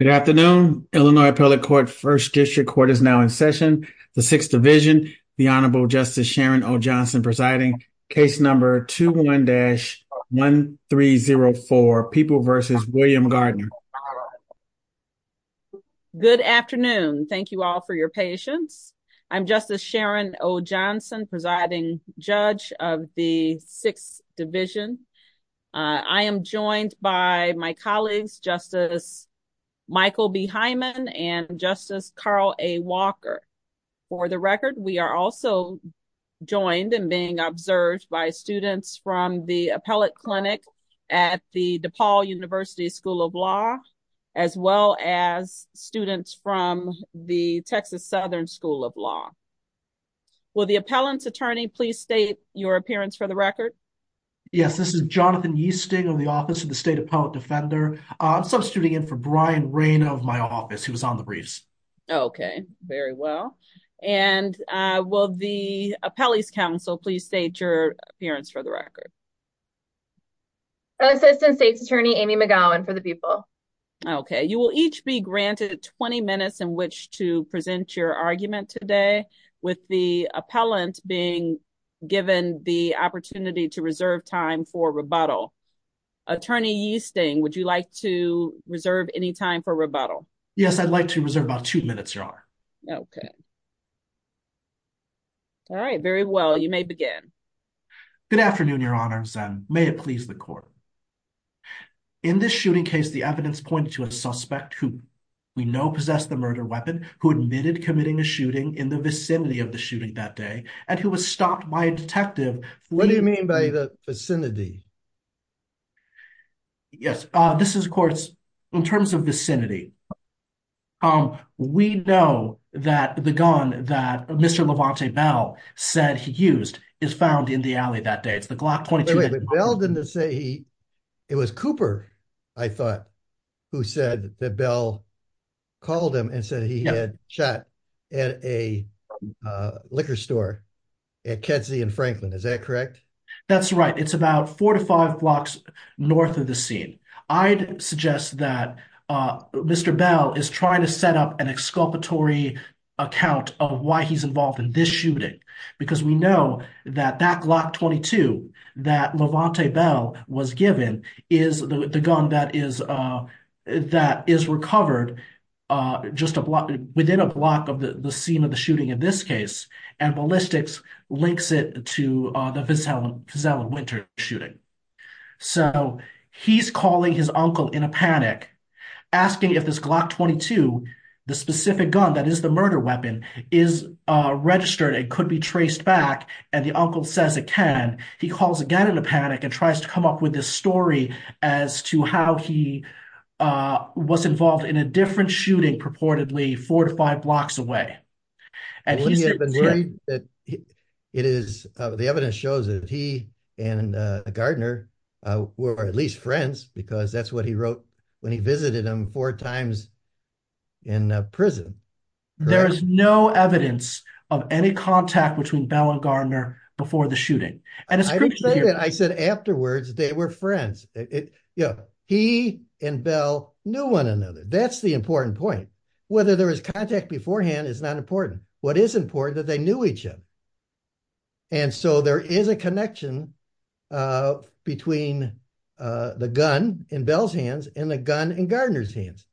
Good afternoon. Illinois Appellate Court First District Court is now in session. The Sixth Division, the Honorable Justice Sharon O. Johnson presiding, case number 21-1304, People v. William Gardner. Good afternoon. Thank you all for your patience. I'm Justice Sharon O. Johnson, presiding judge of the Sixth Division. I am joined by my colleagues, Justice Michael B. Hyman and Justice Carl A. Walker. For the record, we are also joined and being observed by students from the Appellate Clinic at the DePaul University School of Law, as well as students from the Texas Southern School of Law. Will the appellant's attorney please state your appearance for the record? Yes, this is Jonathan Yeasting of the Office of the State Appellate Defender. I'm substituting in for Brian Rayner of my office, who was on the briefs. Okay, very well. And will the appellee's counsel please state your appearance for the record? Assistant State's Attorney Amy McGowan for the People. Okay, you will each be granted 20 minutes in which to present your argument today, with the appellant being given the opportunity to speak. Attorney Yeasting, would you like to reserve any time for rebuttal? Yes, I'd like to reserve about two minutes, Your Honor. Okay. All right, very well. You may begin. Good afternoon, Your Honor, and may it please the court. In this shooting case, the evidence pointed to a suspect who we know possessed the murder weapon, who admitted committing a shooting in the vicinity of the shooting that day, and who was stopped by a detective. What do you mean by the vicinity? Yes, this is, of course, in terms of vicinity. We know that the gun that Mr. Levante Bell said he used is found in the alley that day. It's the Glock 22. Wait, but Bell didn't say he, it was Cooper, I thought, who said that Bell called him and said he had shot at a liquor store at Ketsey and Franklin. Is that correct? That's right. It's about four to five blocks north of the scene. I'd suggest that Mr. Bell is trying to set up an exculpatory account of why he's involved in this shooting, because we know that that Glock 22 that Levante Bell was given is the gun that is recovered just within a block of the scene of the shooting. Ballistics links it to the Vizella Winter shooting. He's calling his uncle in a panic, asking if this Glock 22, the specific gun that is the murder weapon, is registered and could be traced back, and the uncle says it can. He calls again in a panic and tries to come up with this story as to how he was involved in a different shooting purportedly four to five blocks away. And he's been worried that it is, the evidence shows that he and Gardner were at least friends because that's what he wrote when he visited him four times in prison. There is no evidence of any contact between Bell and Gardner before the shooting. I don't say that. I said afterwards they were friends. He and Bell knew one another. That's the important point. Whether there was contact beforehand is not important. What is important is that they knew each other. And so there is a connection between the gun in Bell's hands and the gun in Gardner's hands.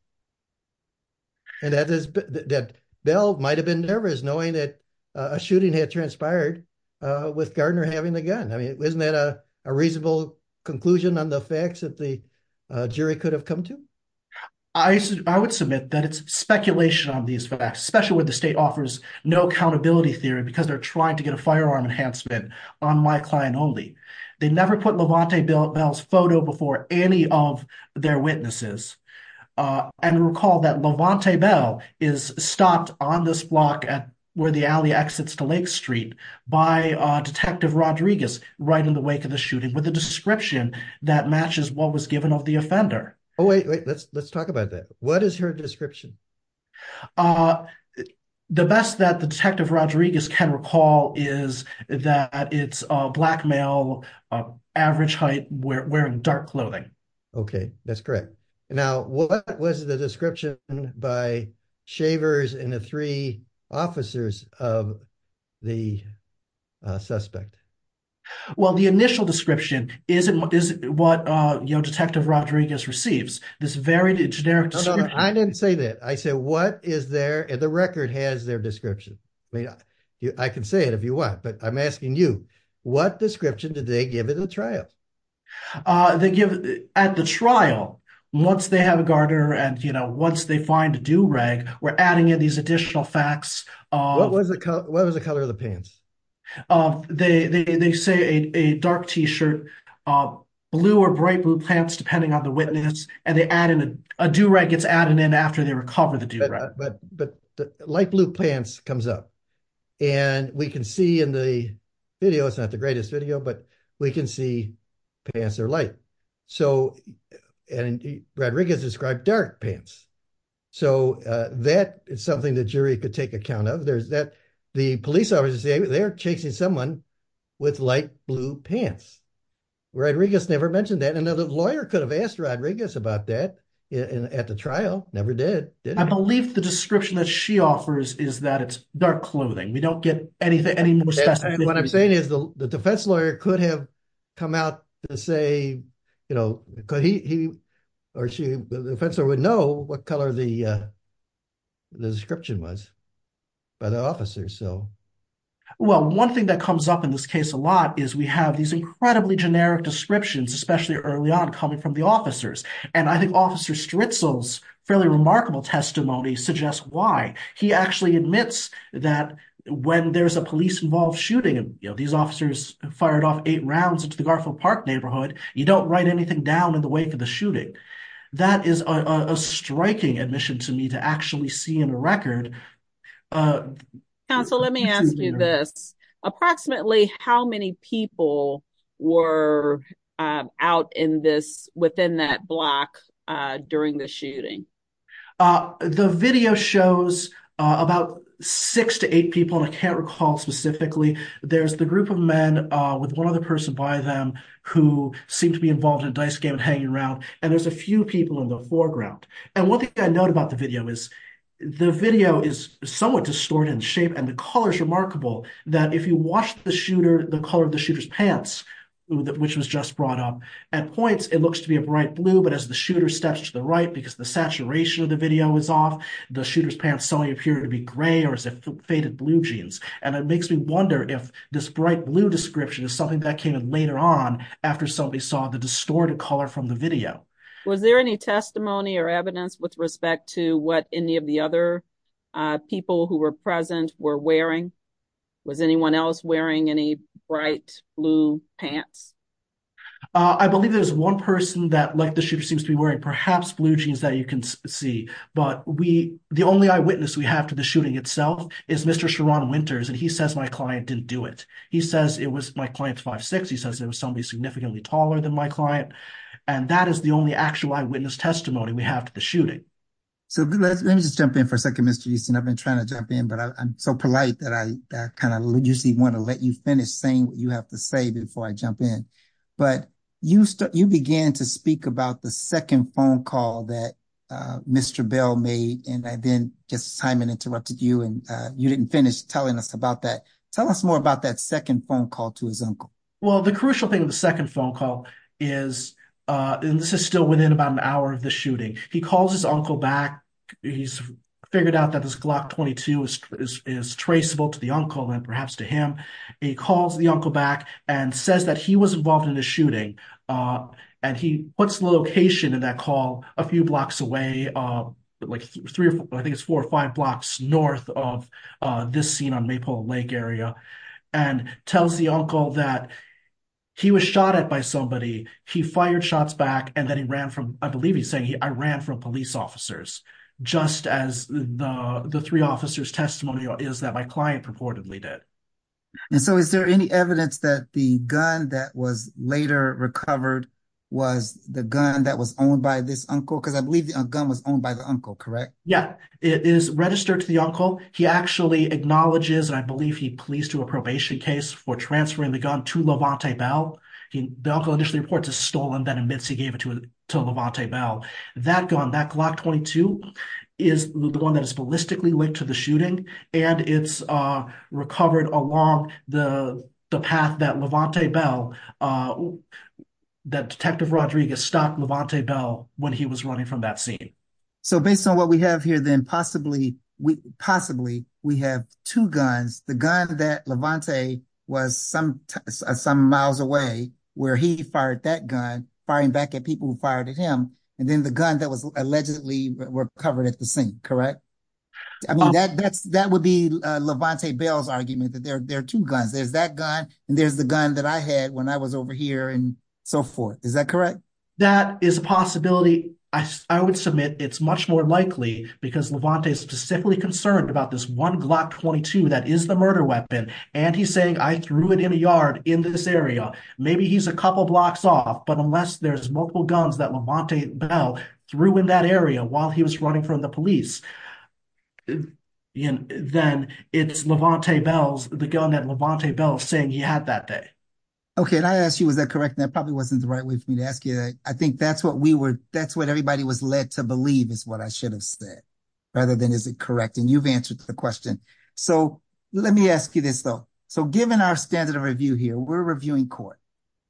And that is that Bell might have been nervous knowing that a shooting had transpired with Gardner having the gun. I mean isn't that a reasonable conclusion on the facts that the state offers no accountability theory because they're trying to get a firearm enhancement on my client only. They never put Levante Bell's photo before any of their witnesses. And recall that Levante Bell is stopped on this block at where the alley exits to Lake Street by Detective Rodriguez right in the wake of the shooting with a description that matches what was given of the offender. Oh wait wait let's let's talk about that. What is her description? The best that the Detective Rodriguez can recall is that it's a black male average height wearing dark clothing. Okay that's correct. Now what was the description by Shavers and the three officers of the suspect? Well the initial description isn't what is that? I said what is there and the record has their description. I mean I can say it if you want but I'm asking you what description did they give at the trial? They give at the trial once they have a Gardner and you know once they find a do-rag we're adding in these additional facts. What was the color of the pants? They say a dark t-shirt, blue or bright blue pants depending on the witness and they add in a do-rag gets added in after they recover the do-rag. But but the light blue pants comes up and we can see in the video it's not the greatest video but we can see pants are light so and Rodriguez described dark pants so that is something the jury could take account of. There's that the police officers say they're chasing someone with light blue pants. Rodriguez never mentioned that another lawyer could have asked Rodriguez about that at the trial never did. I believe the description that she offers is that it's dark clothing we don't get anything anymore. What I'm saying is the defense lawyer could have come out to say you know could he or she the officer would know what color the is we have these incredibly generic descriptions especially early on coming from the officers and I think officer Stritzel's fairly remarkable testimony suggests why. He actually admits that when there's a police involved shooting and you know these officers fired off eight rounds into the Garfield Park neighborhood you don't write anything down in the wake of the shooting. That is a striking admission to me to actually see in a record. Counsel let me ask you this approximately how many people were out in this within that block during the shooting? The video shows about six to eight people I can't recall specifically there's the group of men with one other person by them who seem to be involved in a dice game and hanging around and there's a few people in the foreground and one thing I note about the video is the video is somewhat distorted in shape and the color is remarkable that if you watch the shooter the color of the shooter's pants which was just brought up at points it looks to be a bright blue but as the shooter steps to the right because the saturation of the video is off the shooter's pants suddenly appear to be gray or it's a faded blue jeans and it makes me wonder if this bright blue description is something that came in later on after somebody saw the distorted color from the of the other people who were present were wearing was anyone else wearing any bright blue pants? I believe there's one person that like the shooter seems to be wearing perhaps blue jeans that you can see but we the only eyewitness we have to the shooting itself is Mr. Sharon Winters and he says my client didn't do it he says it was my client's five six he says there was somebody significantly taller than my client and that is the only actual eyewitness testimony we have to shooting. So let me just jump in for a second Mr. Easton I've been trying to jump in but I'm so polite that I kind of usually want to let you finish saying what you have to say before I jump in but you began to speak about the second phone call that Mr. Bell made and I then just Simon interrupted you and you didn't finish telling us about that tell us more about that second phone call to his uncle. Well the crucial thing of the second phone call is and this is within about an hour of the shooting he calls his uncle back he's figured out that this Glock 22 is traceable to the uncle and perhaps to him he calls the uncle back and says that he was involved in the shooting and he puts the location in that call a few blocks away like three or I think it's four or five blocks north of this scene on Maple Lake area and tells the uncle that he was shot at by somebody he fired shots back and then he ran from I believe he's saying he I ran from police officers just as the the three officers testimony is that my client purportedly did. And so is there any evidence that the gun that was later recovered was the gun that was owned by this uncle because I believe the gun was owned by the uncle correct? Yeah it is registered to the uncle he actually acknowledges and I believe he pleased to a probation case for transferring the gun to the uncle. The gun that the uncle initially reports is stolen that admits he gave it to to Levante Bell. That gun that Glock 22 is the one that is ballistically linked to the shooting and it's recovered along the the path that Levante Bell that Detective Rodriguez stopped Levante Bell when he was running from that scene. So based on what we have here then possibly we possibly we have two guns the gun that Levante was some some miles away where he fired that gun firing back at people who fired at him and then the gun that was allegedly recovered at the scene correct? I mean that that's that would be Levante Bell's argument that there are two guns there's that gun and there's the gun that I had when I was over here and so forth is that correct? That is a because Levante is specifically concerned about this one Glock 22 that is the murder weapon and he's saying I threw it in a yard in this area. Maybe he's a couple blocks off but unless there's multiple guns that Levante Bell threw in that area while he was running from the police you know then it's Levante Bell's the gun that Levante Bell saying he had that day. Okay I asked you was that correct that probably wasn't the right way for me to ask you that I think that's what we were that's what everybody was led to believe is what I should have said rather than is it correct and you've answered the question so let me ask you this though so given our standard of review here we're reviewing court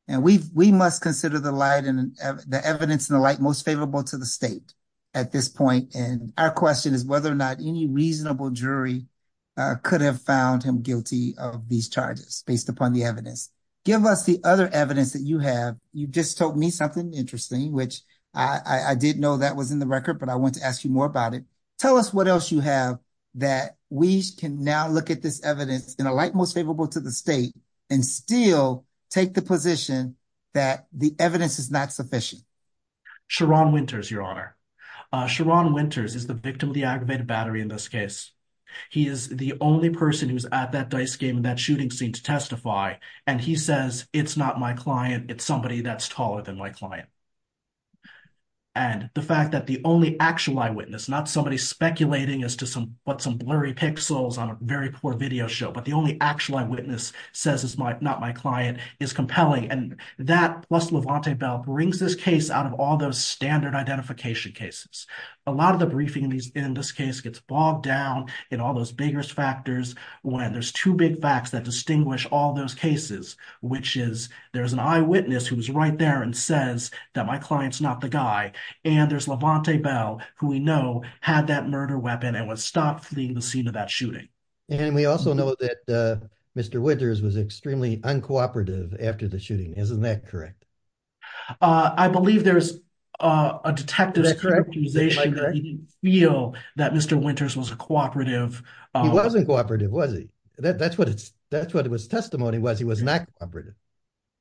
and we've we must consider the light and the evidence in the light most favorable to the state at this point and our question is whether or not any reasonable jury could have found him guilty of these charges based upon the evidence give us the other evidence that you have you just told me something interesting which I did know that was in the record but I want to ask you more about it tell us what else you have that we can now look at this evidence in a light most favorable to the state and still take the position that the evidence is not sufficient. Sherron Winters your honor. Sherron Winters is the victim of the aggravated battery in this case he is the only person who's at that dice game in that it's not my client it's somebody that's taller than my client and the fact that the only actual eyewitness not somebody speculating as to some what some blurry pixels on a very poor video show but the only actual eyewitness says is my not my client is compelling and that plus Levante Bell brings this case out of all those standard identification cases a lot of the briefing in this case gets bogged down in all those bigger factors when there's two big facts that which is there's an eyewitness who's right there and says that my client's not the guy and there's Levante Bell who we know had that murder weapon and was stopped fleeing the scene of that shooting. And we also know that Mr. Winters was extremely uncooperative after the shooting isn't that correct? I believe there's a detective's characterization that he didn't feel that Mr. Winters was a cooperative. He wasn't cooperative was he that that's what it's that's what his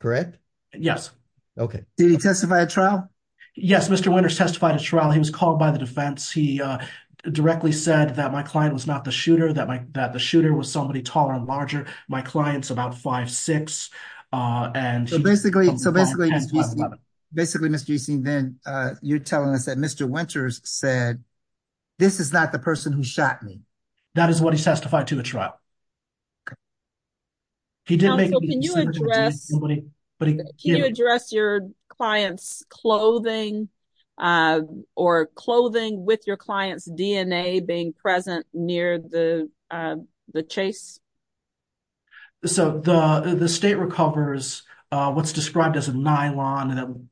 correct? Yes. Okay did he testify at trial? Yes Mr. Winters testified at trial he was called by the defense he uh directly said that my client was not the shooter that my that the shooter was somebody taller and larger my client's about five six uh and so basically so basically basically Mr. Easing then uh you're telling us that Mr. Winters said this is not the person who shot me that is what he testified to a trial. He did make can you address your client's clothing uh or clothing with your client's DNA being present near the uh the chase? So the the state recovers uh what's described as a nylon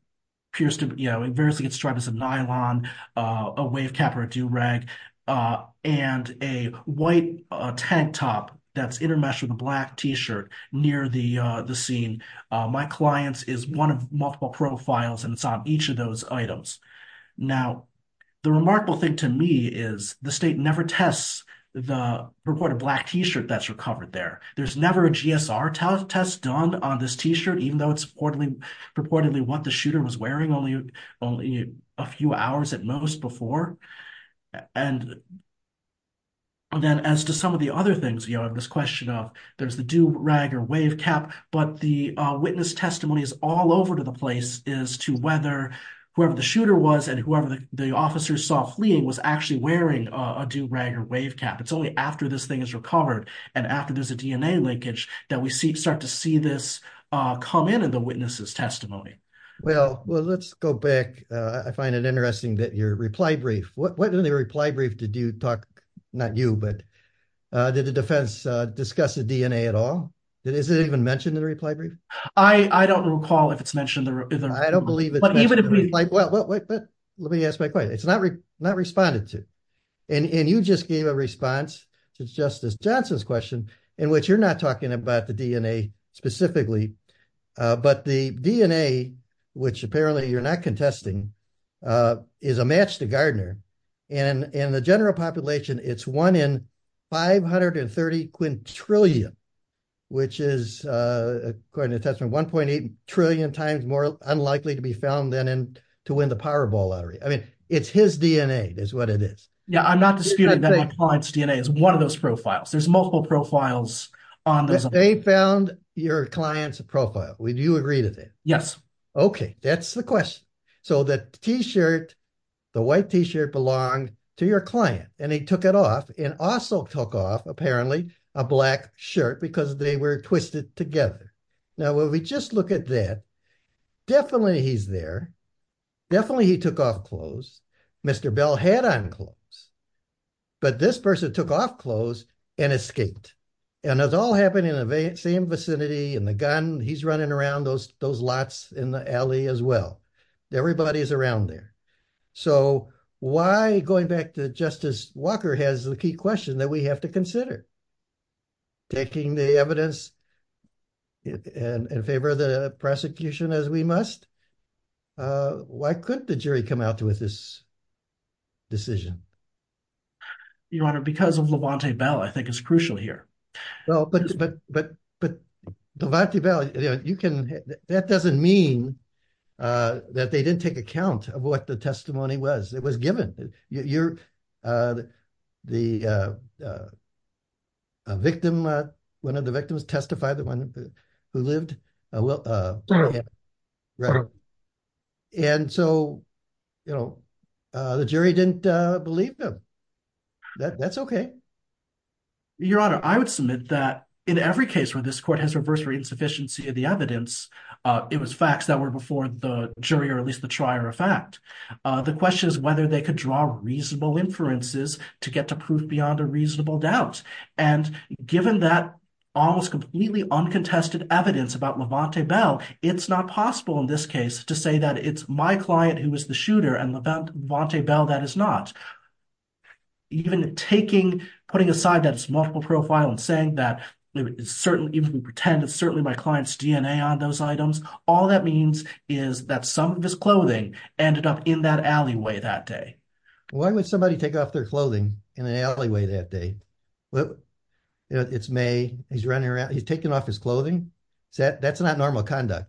pierced you know it variously gets described as a nylon uh a wave cap or a do-rag uh and a white tank top that's intermeshed with a black t-shirt near the uh the scene uh my client's is one of multiple profiles and it's on each of those items. Now the remarkable thing to me is the state never tests the purported black t-shirt that's recovered there there's never a GSR test done on this t-shirt even though it's reportedly purportedly what the shooter was wearing only only a few hours at most before and then as to some of the other things you know this question of there's the do-rag or wave cap but the uh witness testimony is all over to the place is to whether whoever the shooter was and whoever the officers saw fleeing was actually wearing a do-rag or wave cap it's only after this linkage that we see start to see this uh come in in the witness's testimony. Well well let's go back uh I find it interesting that your reply brief what what in the reply brief did you talk not you but uh did the defense uh discuss the DNA at all that is it even mentioned in the reply brief? I I don't recall if it's mentioned either I don't believe it but even if we like well but let me ask my question it's not not responded to and and you just gave a response to Justice Johnson's in which you're not talking about the DNA specifically uh but the DNA which apparently you're not contesting uh is a match to Gardner and in the general population it's one in 530 quintillion which is uh according to the testament 1.8 trillion times more unlikely to be found than in to win the Powerball lottery I mean it's his DNA is what it is. Yeah I'm not disputing that my profile is on this. They found your client's profile would you agree to that? Yes. Okay that's the question so the t-shirt the white t-shirt belonged to your client and he took it off and also took off apparently a black shirt because they were twisted together now when we just look at that definitely he's there definitely he took off clothes Mr. Bell had on clothes but this person took off clothes and escaped and it all happened in the same vicinity and the gun he's running around those those lots in the alley as well everybody's around there so why going back to Justice Walker has the key question that we have to consider taking the evidence and in favor of the prosecution as we must uh why couldn't the jury come out with this decision? Your honor because of Lavontae Bell I think is crucial here. Well but but but but Lavontae Bell you know you can that doesn't mean uh that they didn't take account of what the testimony was it was given you're uh the uh uh a victim uh one of the victims testified the one who lived uh well uh right and so you know uh the jury didn't uh believe them that that's okay. Your honor I would submit that in every case where this court has reversed the insufficiency of the evidence uh it was facts that were before the jury or at least the trier of fact uh the question is whether they could draw reasonable inferences to get to proof beyond a reasonable doubt and given that almost completely uncontested evidence about Lavontae Bell it's not possible in this case to say that it's my client who was the shooter and Lavontae Bell that is not even taking putting aside that it's multiple profile and saying that it's certainly even pretend it's certainly my client's dna on those items all that means is that some of his clothing ended up in that alleyway that day. Why would somebody take off their clothing in an alleyway that day well it's may he's running around he's taking off his clothing so that's not normal conduct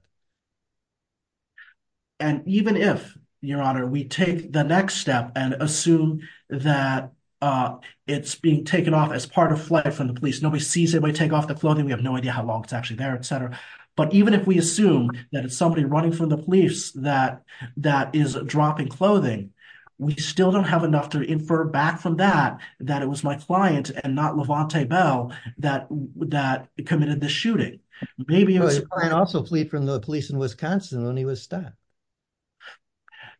and even if your honor we take the next step and assume that uh it's being taken off as part of flight from the police nobody sees it we take off the clothing we have no idea how long it's actually there etc but even if we assume that it's somebody running from the police that that is dropping clothing we still don't have enough to infer back from that that it was my client and not Lavontae Bell that that committed the shooting maybe it was also fleet from the police in Wisconsin when he was stabbed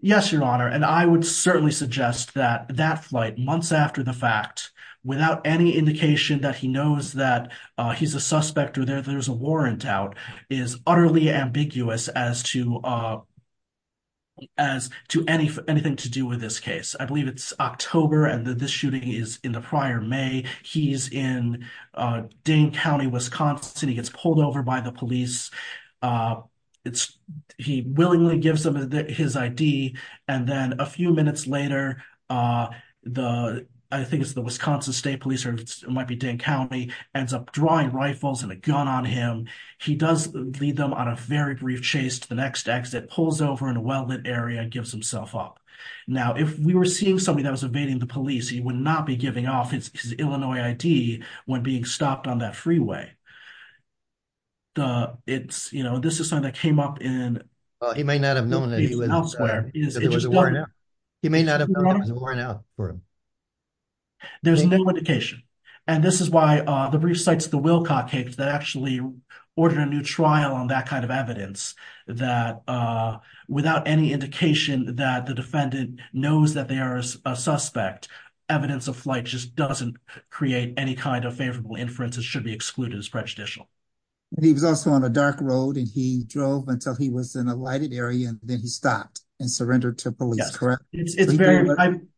yes your honor and I would certainly suggest that that flight months after the fact without any indication that he knows that uh he's a suspect or there there's a anything to do with this case I believe it's October and this shooting is in the prior May he's in uh Dane County Wisconsin he gets pulled over by the police uh it's he willingly gives them his ID and then a few minutes later uh the I think it's the Wisconsin State Police or it might be Dane County ends up drawing rifles and a gun on him he does lead them on a very brief chase to the next exit pulls over in a well-lit area and gives himself up now if we were seeing somebody that was evading the police he would not be giving off his Illinois ID when being stopped on that freeway the it's you know this is something that came up in he may not have known that he was elsewhere he may not have worn out for him there's no indication and this is why the brief cites the Wilcott case that actually ordered a new trial on that kind of evidence that uh without any indication that the defendant knows that they are a suspect evidence of flight just doesn't create any kind of favorable inferences should be excluded as prejudicial and he was also on a dark road and he drove until he was in a lighted area and then he stopped and surrendered to police correct it's very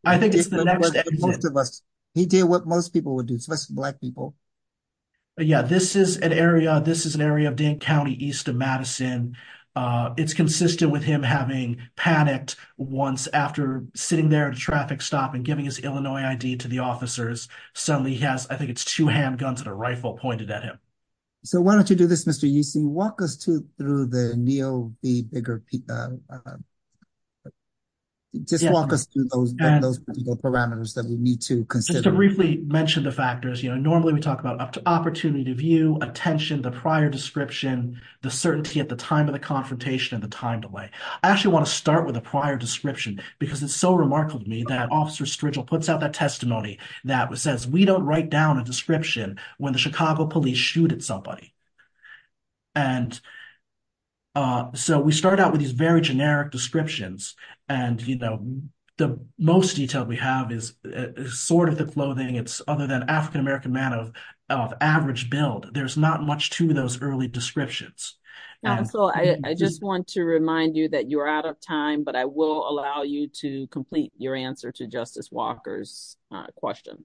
I think it's the next most of us he did what most people would do especially black people yeah this is an area this is an area of Dane County east of Madison uh it's consistent with him having panicked once after sitting there at a traffic stop and giving his Illinois ID to the officers suddenly he has I think it's two handguns and a rifle pointed at him so why don't you do this Mr. Euston walk us to through the neo the bigger uh just walk us through those those parameters that we need to consider just to briefly mention the factors you know normally we talk about opportunity to view attention the prior description the certainty at the time of the confrontation and the time delay I actually want to start with a prior description because it's so remarkable to me that officer Strigel puts out that testimony that says we don't write down a description when the Chicago police shoot somebody and uh so we start out with these very generic descriptions and you know the most detail we have is sort of the clothing it's other than african-american man of average build there's not much to those early descriptions now so I just want to remind you that you're out of time but I will allow you to complete your answer to Justice Walker's question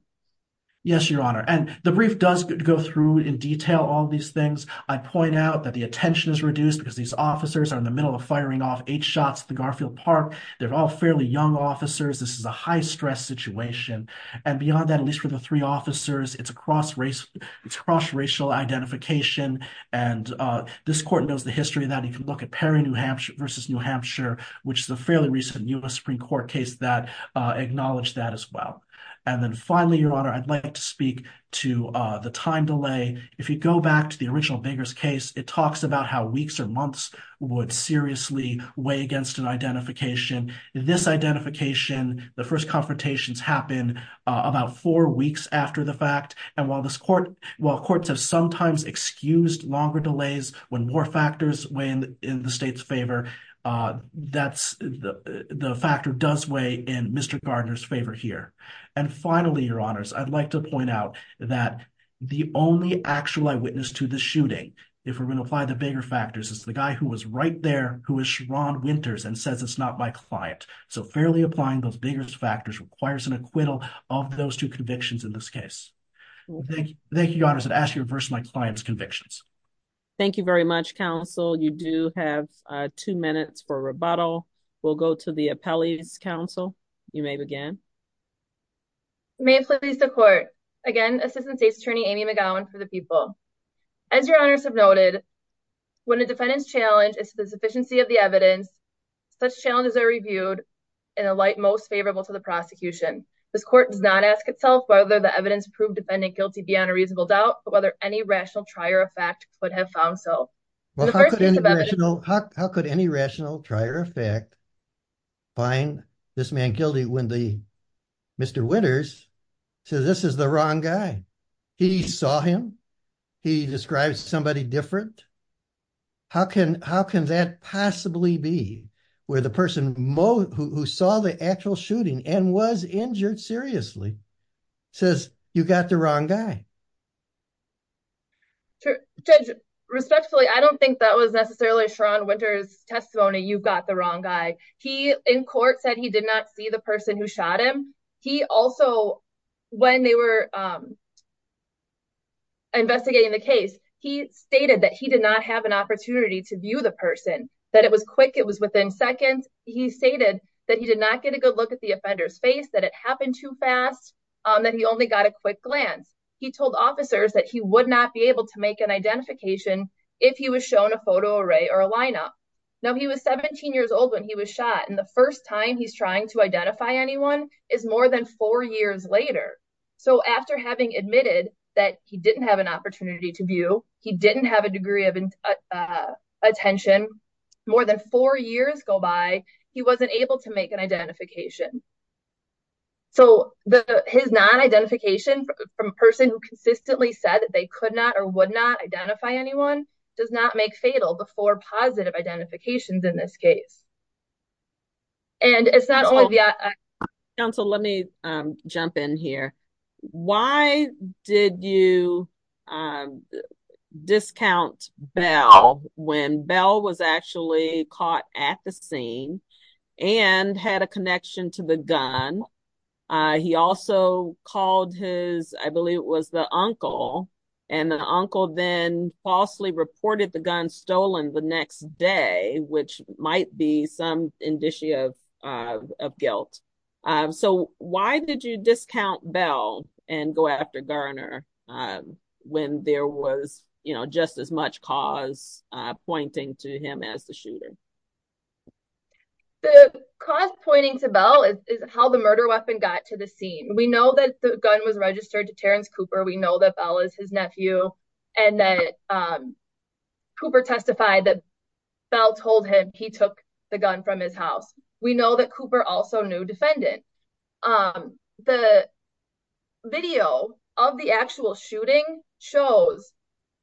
yes your honor and the brief does go through in detail all these things I point out that the attention is reduced because these officers are in the middle of firing off eight shots at the Garfield Park they're all fairly young officers this is a high stress situation and beyond that at least for the three officers it's a cross race it's cross racial identification and uh this court knows the history of that you can look at Perry New Hampshire versus New Hampshire which is a fairly recent US Supreme Court case that acknowledged that as well and then finally your honor I'd like to speak to uh the time delay if you go back to the original Baker's case it talks about how weeks or months would seriously weigh against an identification this identification the first confrontations happened about four weeks after the fact and while this court while courts have sometimes excused longer delays when more here and finally your honors I'd like to point out that the only actual eyewitness to the shooting if we're going to apply the bigger factors is the guy who was right there who is Ron Winters and says it's not my client so fairly applying those biggest factors requires an acquittal of those two convictions in this case well thank you thank you honors and ask you reverse my client's convictions thank you very much counsel you do have uh two minutes for rebuttal we'll go to the counsel you may begin may please the court again assistant state attorney Amy McGowan for the people as your honors have noted when a defendant's challenge is to the sufficiency of the evidence such challenges are reviewed in a light most favorable to the prosecution this court does not ask itself whether the evidence proved defendant guilty beyond a reasonable doubt but whether any rational try or effect could have found so well how could any rational how find this man guilty when the Mr. Winters says this is the wrong guy he saw him he describes somebody different how can how can that possibly be where the person who saw the actual shooting and was injured seriously says you got the wrong guy judge respectfully I don't think that was he in court said he did not see the person who shot him he also when they were investigating the case he stated that he did not have an opportunity to view the person that it was quick it was within seconds he stated that he did not get a good look at the offender's face that it happened too fast that he only got a quick glance he told officers that he would not be able to make an identification if he was shown a photo array or a lineup now he was 17 years old when he was shot and the first time he's trying to identify anyone is more than four years later so after having admitted that he didn't have an opportunity to view he didn't have a degree of attention more than four years go by he wasn't able to make an identification so the his non-identification from a person who consistently said that they could not or positive identifications in this case and it's not only the council let me um jump in here why did you um discount bell when bell was actually caught at the scene and had a connection to the gun uh he also called his I believe it was the uncle and the uncle then falsely reported the gun stolen the next day which might be some indicia of guilt so why did you discount bell and go after garner when there was you know just as much cause uh pointing to him as the shooter the cause pointing to bell is how the murder weapon got to the scene we know that the gun was registered to terrence cooper we know that bell is his nephew and that um cooper testified that bell told him he took the gun from his house we know that cooper also knew defendant um the video of the actual shooting shows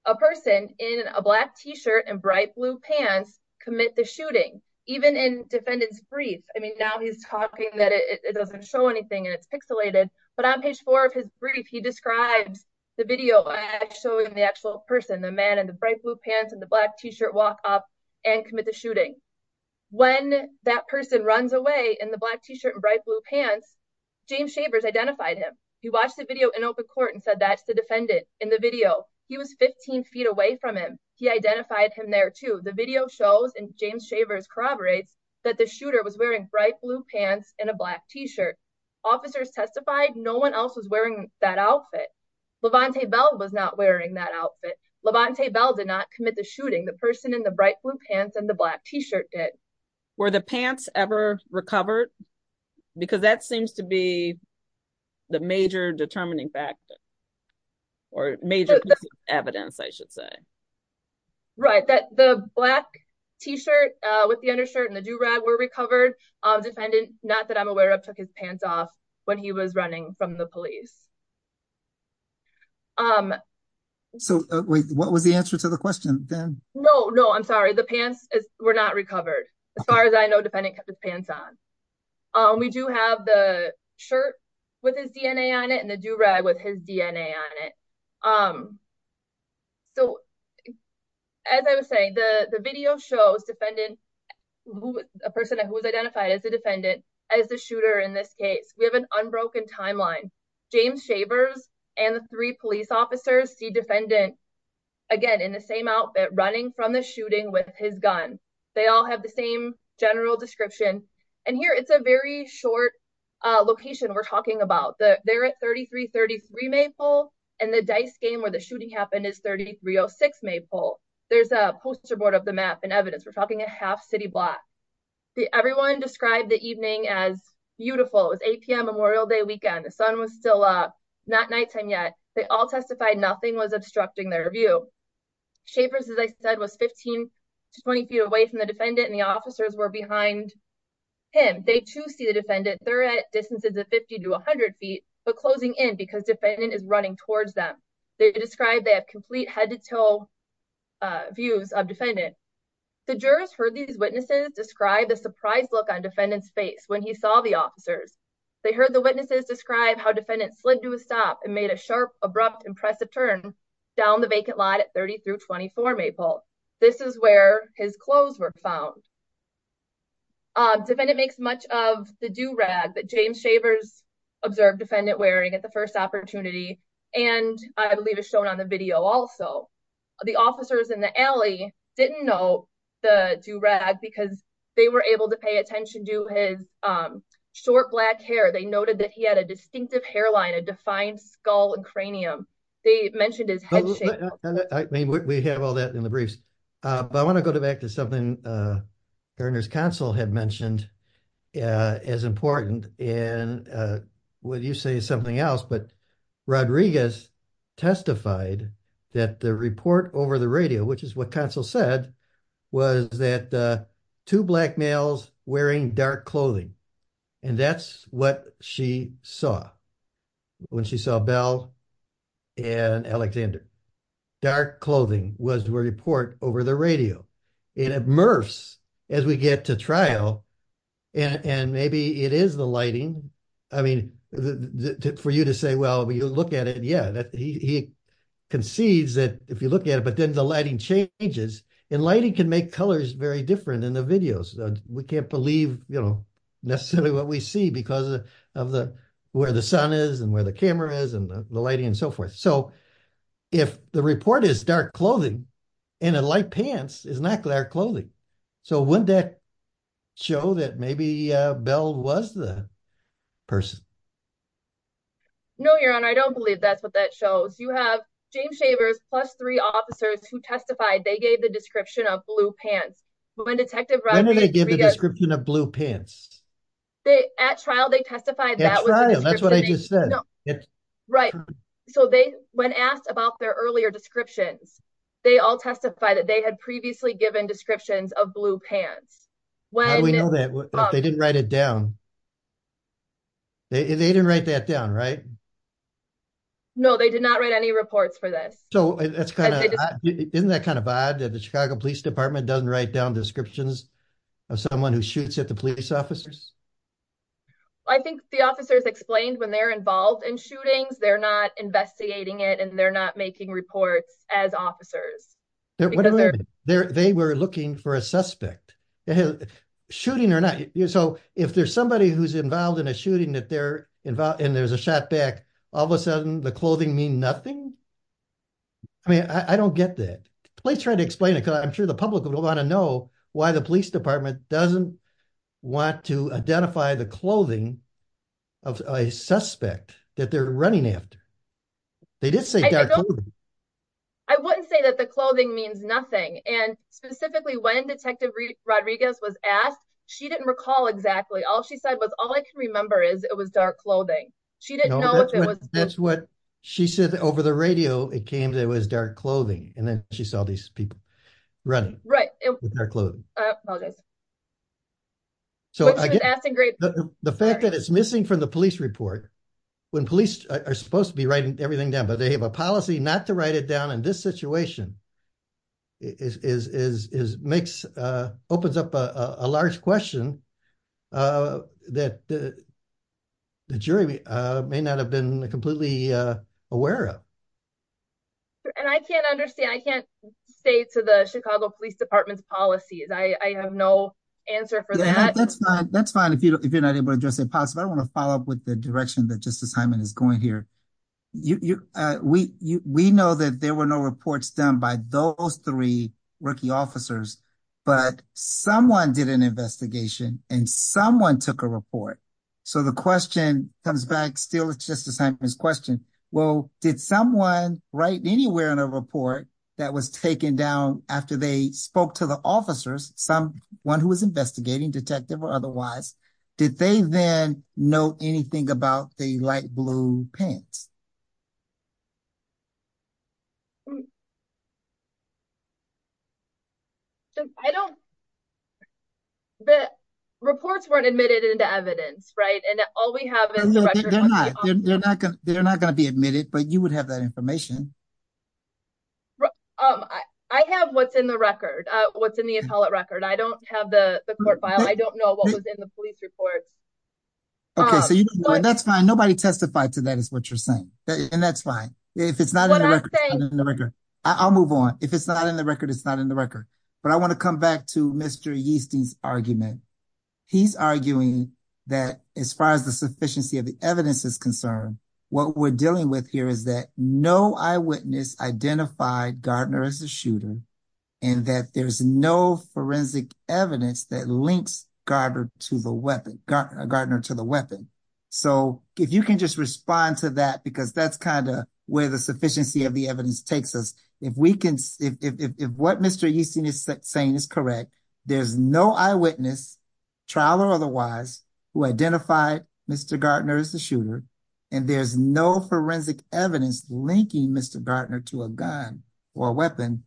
a person in a black t-shirt and bright blue pants commit the shooting even in defendant's brief i mean now he's talking that it doesn't show anything and but on page four of his brief he describes the video showing the actual person the man in the bright blue pants and the black t-shirt walk up and commit the shooting when that person runs away in the black t-shirt and bright blue pants james shavers identified him he watched the video in open court and said that's the defendant in the video he was 15 feet away from him he identified him there too the video shows and james shavers corroborates that the shooter was wearing bright blue pants and a black t-shirt officers testified no one else was wearing that outfit levante bell was not wearing that outfit levante bell did not commit the shooting the person in the bright blue pants and the black t-shirt did were the pants ever recovered because that seems to be the major determining factor or major evidence i should say right that the black t-shirt uh with the undershirt and the do-rag were recovered uh defendant not that i'm aware of took his pants off when he was running from the police um so wait what was the answer to the question then no no i'm sorry the pants were not recovered as far as i know defendant kept his pants on um we do have the shirt with his dna on it and the red with his dna on it um so as i was saying the the video shows defendant a person who was identified as a defendant as the shooter in this case we have an unbroken timeline james shavers and the three police officers see defendant again in the same outfit running from the shooting with his gun they all have the same general description and here it's a very short uh location we're talking about the they're at 33 33 maypole and the dice game where the shooting happened is 3306 maypole there's a poster board of the map and evidence we're talking a half city block the everyone described the evening as beautiful it was 8 p.m memorial day weekend the sun was still up not nighttime yet they all testified nothing was obstructing their view shapers as i said was 15 to 20 feet away from the defendant and the officers were behind him they too see the defendant they're at distances of 50 to 100 feet but closing in because defendant is running towards them they described they have complete head-to-toe uh views of defendant the jurors heard these witnesses describe the surprise look on defendant's face when he saw the officers they heard the witnesses describe how defendant slid to a stop and made a sharp abrupt impressive turn down the vacant lot at 30 through 24 maple this is where his clothes were found uh defendant makes much of the do-rag that james shavers observed defendant wearing at the first opportunity and i believe is shown on the video also the officers in the alley didn't know the do-rag because they were able to pay attention to his um short black hair they noted that he had a distinctive hairline a defined skull and cranium they mentioned his head shape i mean we have all in the briefs uh but i want to go back to something uh earners council had mentioned as important and uh would you say something else but rodriguez testified that the report over the radio which is what council said was that uh two black males wearing dark clothing and that's what she saw when she saw bell and alexander dark clothing was to report over the radio it immerse as we get to trial and and maybe it is the lighting i mean for you to say well you look at it yeah that he concedes that if you look at it but then the lighting changes and lighting can make colors very different in the videos we can't believe you know necessarily what we see because of the where the sun is and where the camera is and the lighting and so forth so if the report is dark clothing in a light pants is not clear clothing so wouldn't that show that maybe bell was the person no your honor i don't believe that's what that shows you have james shavers plus three officers who testified they gave the description of blue pants when detective when did they give the description of blue pants they at trial they testified that that's what i just said right so they when asked about their earlier descriptions they all testify that they had previously given descriptions of blue pants why do we know that they didn't write down they didn't write that down right no they did not write any reports for this so that's kind of isn't that kind of odd that the chicago police department doesn't write down descriptions of someone who shoots at the police officers i think the officers explained when they're involved in shootings they're not investigating it and they're not making reports as officers whatever they're they were looking for a suspect shooting or not so if there's somebody who's involved in a shooting that they're involved and there's a shot back all of a sudden the clothing mean nothing i mean i don't get that please try to explain it because i'm sure the public will want to know why the police department doesn't want to identify the clothing of a suspect that they're running after they did say i wouldn't say that the clothing means nothing and specifically when detective rodriguez was asked she didn't recall exactly all she said was all i can remember is it was dark clothing she didn't know if it was that's what she said over the radio it came that it was dark clothing and then she saw these people running right it was their clothing so she was asking great the fact that it's missing from the police report when police are supposed to be writing everything but they have a policy not to write it down in this situation is is is makes uh opens up a large question uh that the jury may not have been completely uh aware of and i can't understand i can't say to the chicago police department's policies i i have no answer for that that's fine that's fine if you're not able to address it possibly i want to follow up with the direction that justice hyman is going here you you uh we you we know that there were no reports done by those three rookie officers but someone did an investigation and someone took a report so the question comes back still with justice hyman's question well did someone write anywhere in a report that was taken down after they spoke to the officers some one who was investigating detective or otherwise did they then know anything about the light blue pants i don't the reports weren't admitted into evidence right and all we have they're not going to be admitted but you would have that information right um i i have what's in the record uh what's in the appellate record i don't have the court file i don't know what was in the police report okay so you know that's fine nobody testified to that is what you're saying and that's fine if it's not in the record i'll move on if it's not in the record it's not in the record but i want to come back to mr yeasty's argument he's arguing that as far as the sufficiency of the evidence is concerned what we're dealing with here is that no eyewitness identified gardner as a shooter and that there's no forensic evidence that links gardner to the weapon gardner to the weapon so if you can just respond to that because that's kind of where the sufficiency of the evidence takes us if we can if if what mr yeasty is saying is correct there's no eyewitness trial or otherwise who identified mr gardner as a shooter and there's no forensic evidence linking mr gardner to a gun or a weapon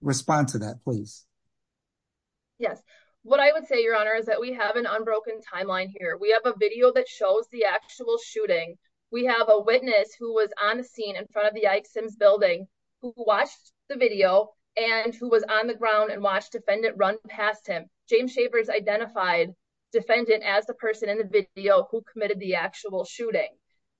respond to that please yes what i would say your honor is that we have an unbroken timeline here we have a video that shows the actual shooting we have a witness who was on the scene in front of the ike sims building who watched the video and who was on the ground and watched defendant run past him james shavers identified defendant as the person in the video who committed the actual shooting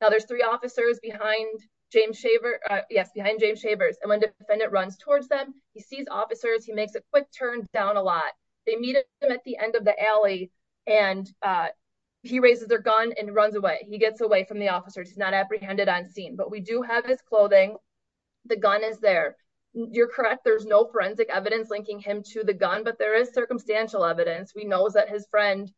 now there's three officers behind james shaver yes behind james shavers and when the defendant runs towards them he sees officers he makes a quick turn down a lot they meet him at the end of the alley and uh he raises their gun and runs away he gets away from the officers he's not apprehended on scene but we do have his clothing the gun is there you're correct there's no forensic evidence linking him to the gun but there is circumstantial evidence we know that his friend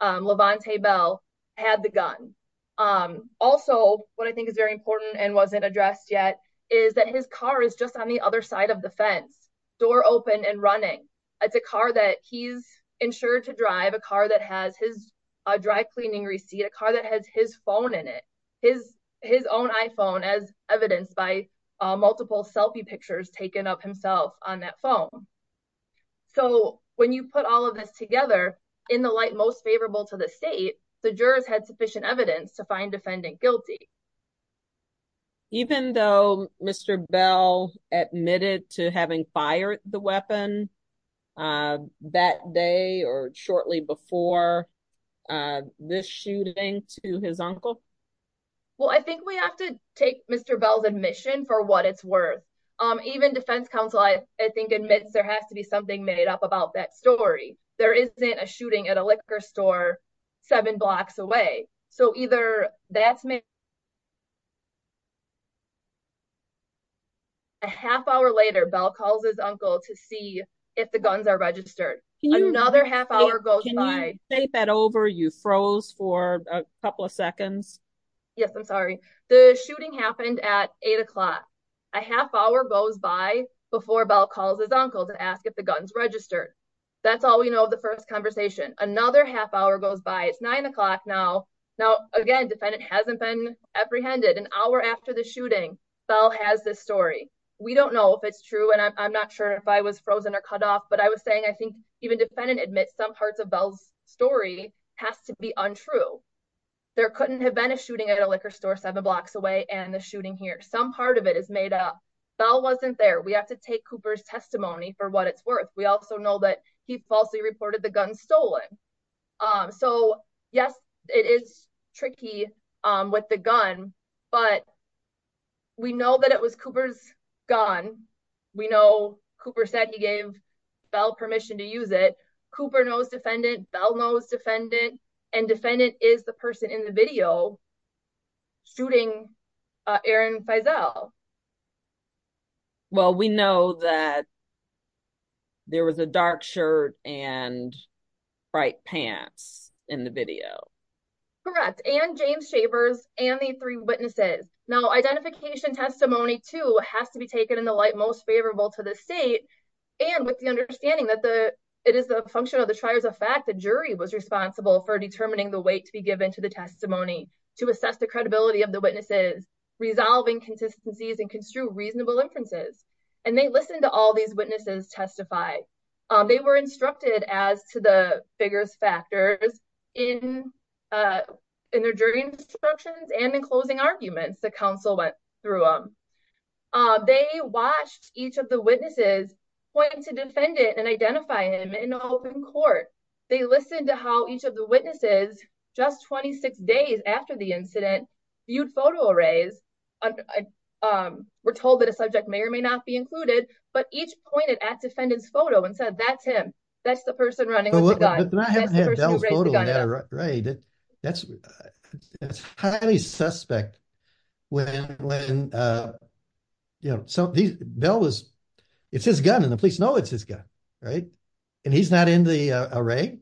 um levante bell had the gun um also what i think is very important and wasn't addressed yet is that his car is just on the other side of the fence door open and running it's a car that he's insured to drive a car that has his a dry cleaning receipt a car that has his phone in it his his own iphone as evidenced by multiple selfie pictures taken of himself on that phone so when you put all of this together in the light most favorable to the state the jurors had sufficient evidence to find defendant guilty even though mr bell admitted to having fired the weapon uh that day or shortly before uh this shooting to his uncle well i think we have to take mr bell's admission for what it's worth um even defense council i i think admits there has to be something made up about that story there isn't a shooting at a liquor store seven blocks away so either that's me a half hour later bell calls his uncle to see if the guns are registered another half hour goes by take that over you froze for a couple of seconds yes i'm sorry the shooting happened at eight o'clock a half hour goes by before bell calls his uncle to ask if the guns registered that's all we know of the first conversation another half hour goes by it's nine o'clock now now again defendant hasn't been apprehended an hour after the shooting bell has this story we don't know if it's true and i'm not sure if i was frozen or cut off but i was saying i think even defendant admits some parts of bell's story has to be untrue there couldn't have been a shooting at a liquor store seven blocks away and the shooting here some part of it is made up bell wasn't there we have to take cooper's testimony for what it's worth we also know that he falsely reported the gun stolen um so yes it is tricky um with the gun but we know that it was cooper's gun we know cooper said he gave bell permission to use it cooper knows defendant bell knows defendant and defendant is the person in the video shooting uh aaron feisal well we know that there was a dark shirt and bright pants in the video correct and james shavers and the three witnesses now identification testimony too has to be taken in the light most favorable to the state and with the understanding that the it is the function of the triers of fact the jury was responsible for determining the weight to be given to the testimony to assess the credibility of the witnesses resolving consistencies and construe reasonable inferences and they listened to all these witnesses testify they were instructed as to the figures factors in uh in their jury instructions and in closing arguments the council went through them uh they watched each of the witnesses pointing to defendant and identify him in open court they listened to how each of the witnesses just 26 days after the incident viewed photo arrays um we're told that a subject may or may not be included but each pointed at the guy that's that's highly suspect when when uh you know so these bell was it's his gun and the police know it's his gun right and he's not in the array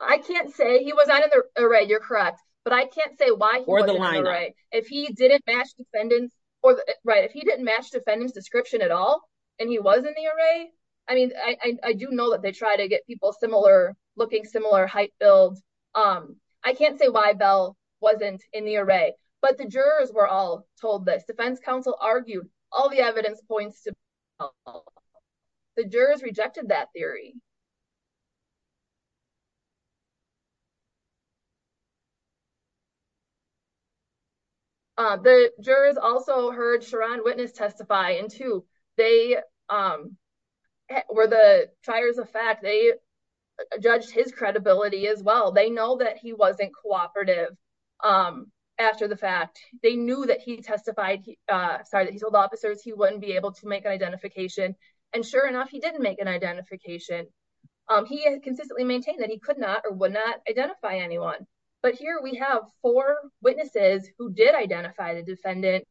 i can't say he was not in the array you're correct but i can't say why or the line right if he didn't match defendant or right if he didn't match defendant's description at all and he was in the array i mean i i do know that they try to get people similar looking similar height builds um i can't say why bell wasn't in the array but the jurors were all told this defense council argued all the evidence points to the jurors rejected that theory you uh the jurors also heard sharon witness testify and two they um were the triers of fact they judged his credibility as well they know that he wasn't cooperative um after the fact they knew that he testified uh sorry that he told officers he wouldn't be able to make an identification and sure enough he didn't make an identification um he consistently maintained that he could not or would not identify anyone but here we have four witnesses who did identify the defendant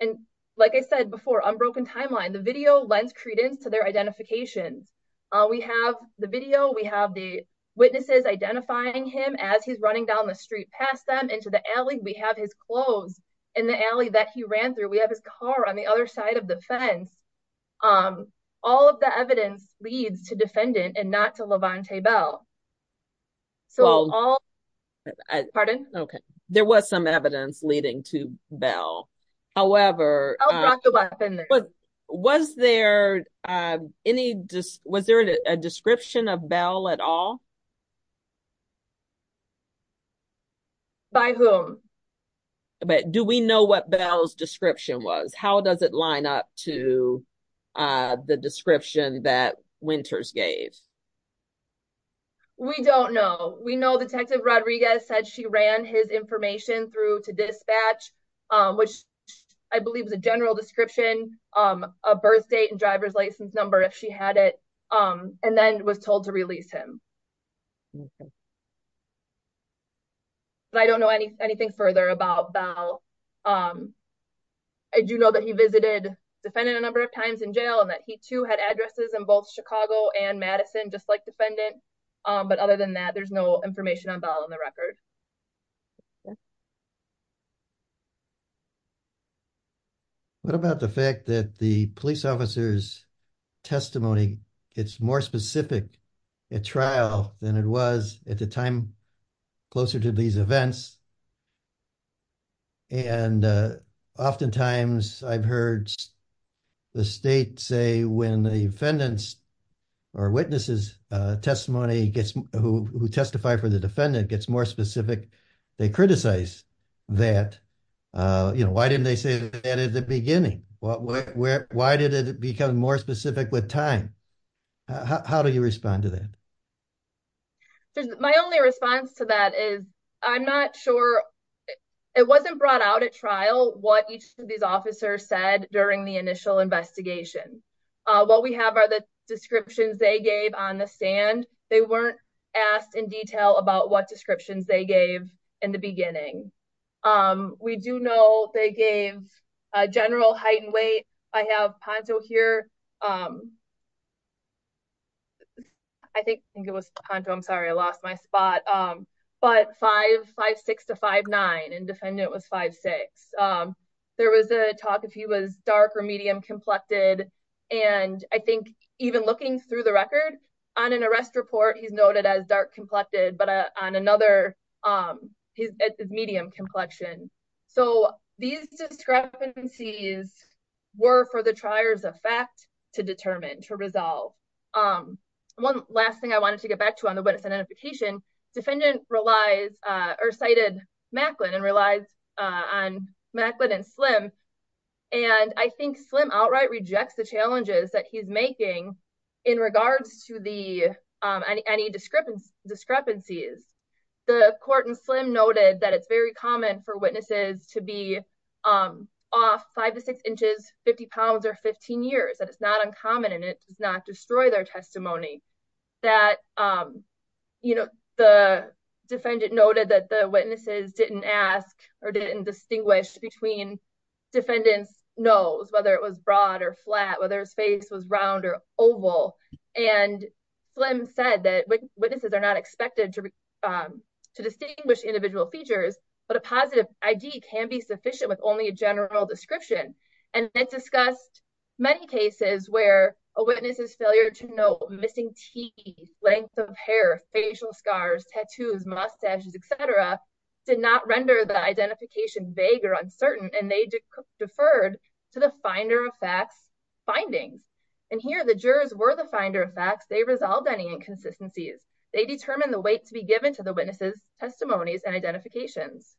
and like i said before unbroken timeline the video lends credence to their identification uh we have the video we have the witnesses identifying him as he's running down the street past them into the alley we have his clothes in the alley that he ran through we have his car on the other side of the fence um all of the evidence leads to defendant and not to levante bell so all pardon okay there was some evidence leading to bell however was there uh any just was there a description of bell at all by whom but do we know what bell's description was how does it line up to uh the description that winters gave we don't know we know detective rodriguez said she ran his information through to dispatch um which i believe is a general description um a birth date and driver's license number if she had it um and then was told to release him but i don't know any anything further about bell um i do know that he visited defendant a number of times in jail and that he too had addresses in both chicago and madison just like defendant um but other than that there's no information on bell on the record what about the fact that the police officer's testimony it's more specific at trial than it was at the time closer to these events and oftentimes i've heard the state say when the defendants or witnesses uh testimony gets who who testify for the defendant gets more specific they criticize that uh you know why didn't they say that at the beginning what where why did it become more specific with time how do you respond to that my only response to that is i'm not sure it wasn't brought out at trial what each of these officers said during the initial investigation uh what we have are the descriptions they gave on the stand they weren't asked in detail about what descriptions they gave in the beginning um we do know they gave a general height and weight i have panto here um i think i think it was panto i'm sorry i lost my spot um but five five six to five nine and defendant was five six um there was a talk if he was dark or medium complected and i think even looking through the record on an arrest report he's noted as dark complected but on another um at this medium complexion so these discrepancies were for the trier's effect to determine to resolve um one last thing i wanted to get back to on the witness identification defendant relies uh or cited macklin and relies uh on macklin and slim and i think slim outright rejects the comment for witnesses to be um off five to six inches 50 pounds or 15 years that it's not uncommon and it does not destroy their testimony that um you know the defendant noted that the witnesses didn't ask or didn't distinguish between defendant's nose whether it was broad or flat whether his face was round or oval and slim said that witnesses are not expected to um to individual features but a positive id can be sufficient with only a general description and they discussed many cases where a witness's failure to note missing teeth length of hair facial scars tattoos mustaches etc did not render the identification vague or uncertain and they deferred to the finder of facts findings and here the jurors were the finder of facts they resolved any inconsistencies they determined the weight to be given to the witnesses testimonies and identifications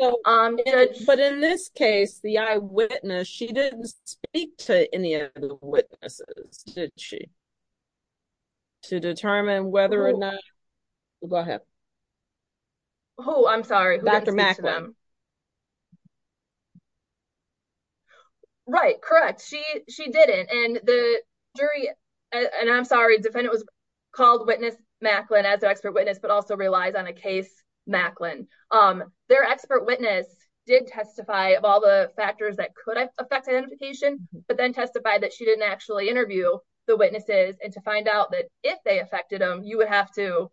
so um but in this case the eyewitness she didn't speak to any of the witnesses did she to determine whether or not go ahead oh i'm sorry dr macklem um right correct she she didn't and the jury and i'm sorry defendant was called witness macklin as an expert witness but also relies on a case macklin um their expert witness did testify of all the factors that could affect identification but then testified that she didn't actually interview the witnesses and to find out that if they affected them you would have to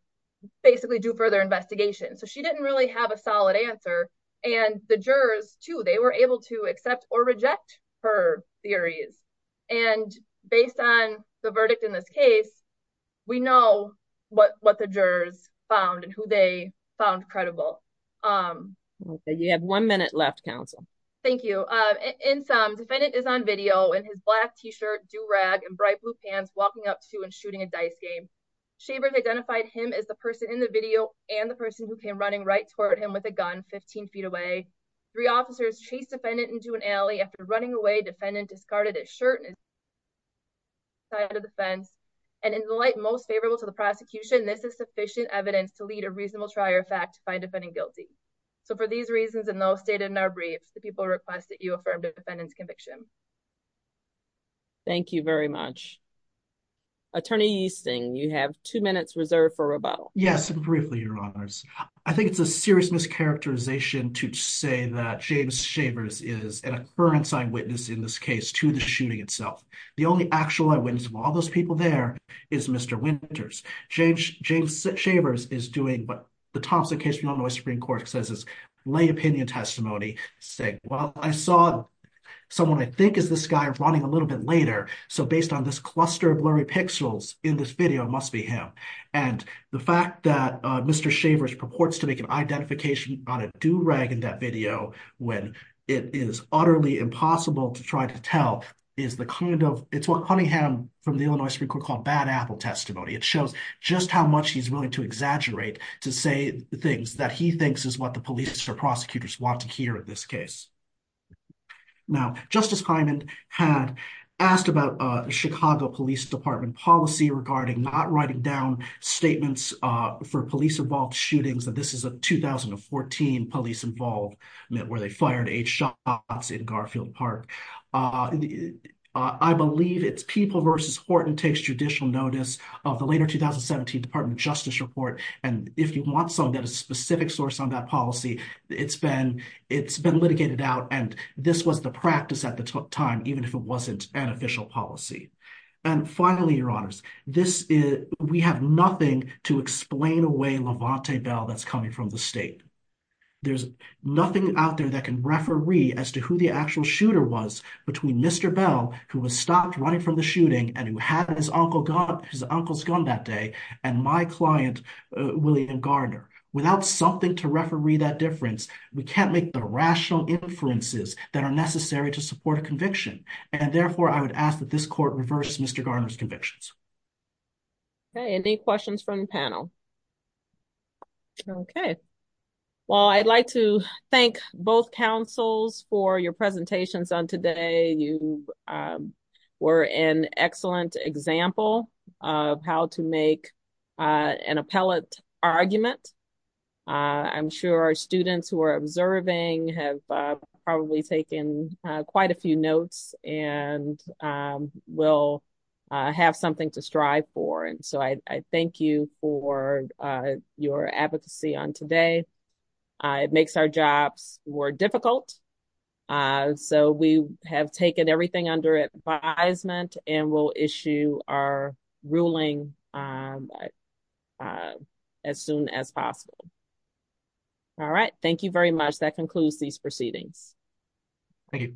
basically do further investigation so she didn't really have a solid answer and the jurors too they were able to accept or reject her theories and based on the verdict in this case we know what what the jurors found and who they found credible um okay you have one minute left counsel thank you uh in some defendant is on video and his black t-shirt do rag and bright blue pants walking up to and shooting a dice game shavers identified him as the person in the video and the person who came running right toward him with a gun 15 feet away three officers chased defendant into an alley after running away defendant discarded his shirt and side of the fence and in the light most favorable to the prosecution this is sufficient evidence to lead a reasonable trial your fact to find defending guilty so for these reasons and those stated in our briefs the people request conviction thank you very much attorney yeasting you have two minutes reserved for rebuttal yes and briefly your honors i think it's a serious mischaracterization to say that james shavers is an occurrence eyewitness in this case to the shooting itself the only actual eyewitness of all those people there is mr winters james james shavers is doing but the Thompson case we don't his lay opinion testimony saying well i saw someone i think is this guy running a little bit later so based on this cluster of blurry pixels in this video must be him and the fact that uh mr shavers purports to make an identification on a do-rag in that video when it is utterly impossible to try to tell is the kind of it's what honey ham from the illinois supreme court called bad apple testimony it shows just how much he's willing to exaggerate to say the things that he thinks is what the police or prosecutors want to hear in this case now justice hyman had asked about uh chicago police department policy regarding not writing down statements uh for police involved shootings that this is a 2014 police involved where they fired eight shots in garfield park uh i believe it's people versus horton takes judicial notice of department justice report and if you want some that a specific source on that policy it's been it's been litigated out and this was the practice at the time even if it wasn't an official policy and finally your honors this is we have nothing to explain away levante bell that's coming from the state there's nothing out there that can referee as to who the actual shooter was between mr bell who was stopped running from the shooting and who had his uncle got his uncle's that day and my client william garner without something to referee that difference we can't make the rational inferences that are necessary to support a conviction and therefore i would ask that this court reverse mr garner's convictions okay any questions from the panel okay well i'd like to thank both councils for your presentations on today you um were an excellent example of how to make uh an appellate argument i'm sure our students who are observing have probably taken quite a few notes and um will have something to strive for and so i i thank you for uh your advocacy on today it makes our jobs more difficult uh so we have taken everything under advisement and we'll issue our ruling um as soon as possible all right thank you very much that concludes these proceedings thank you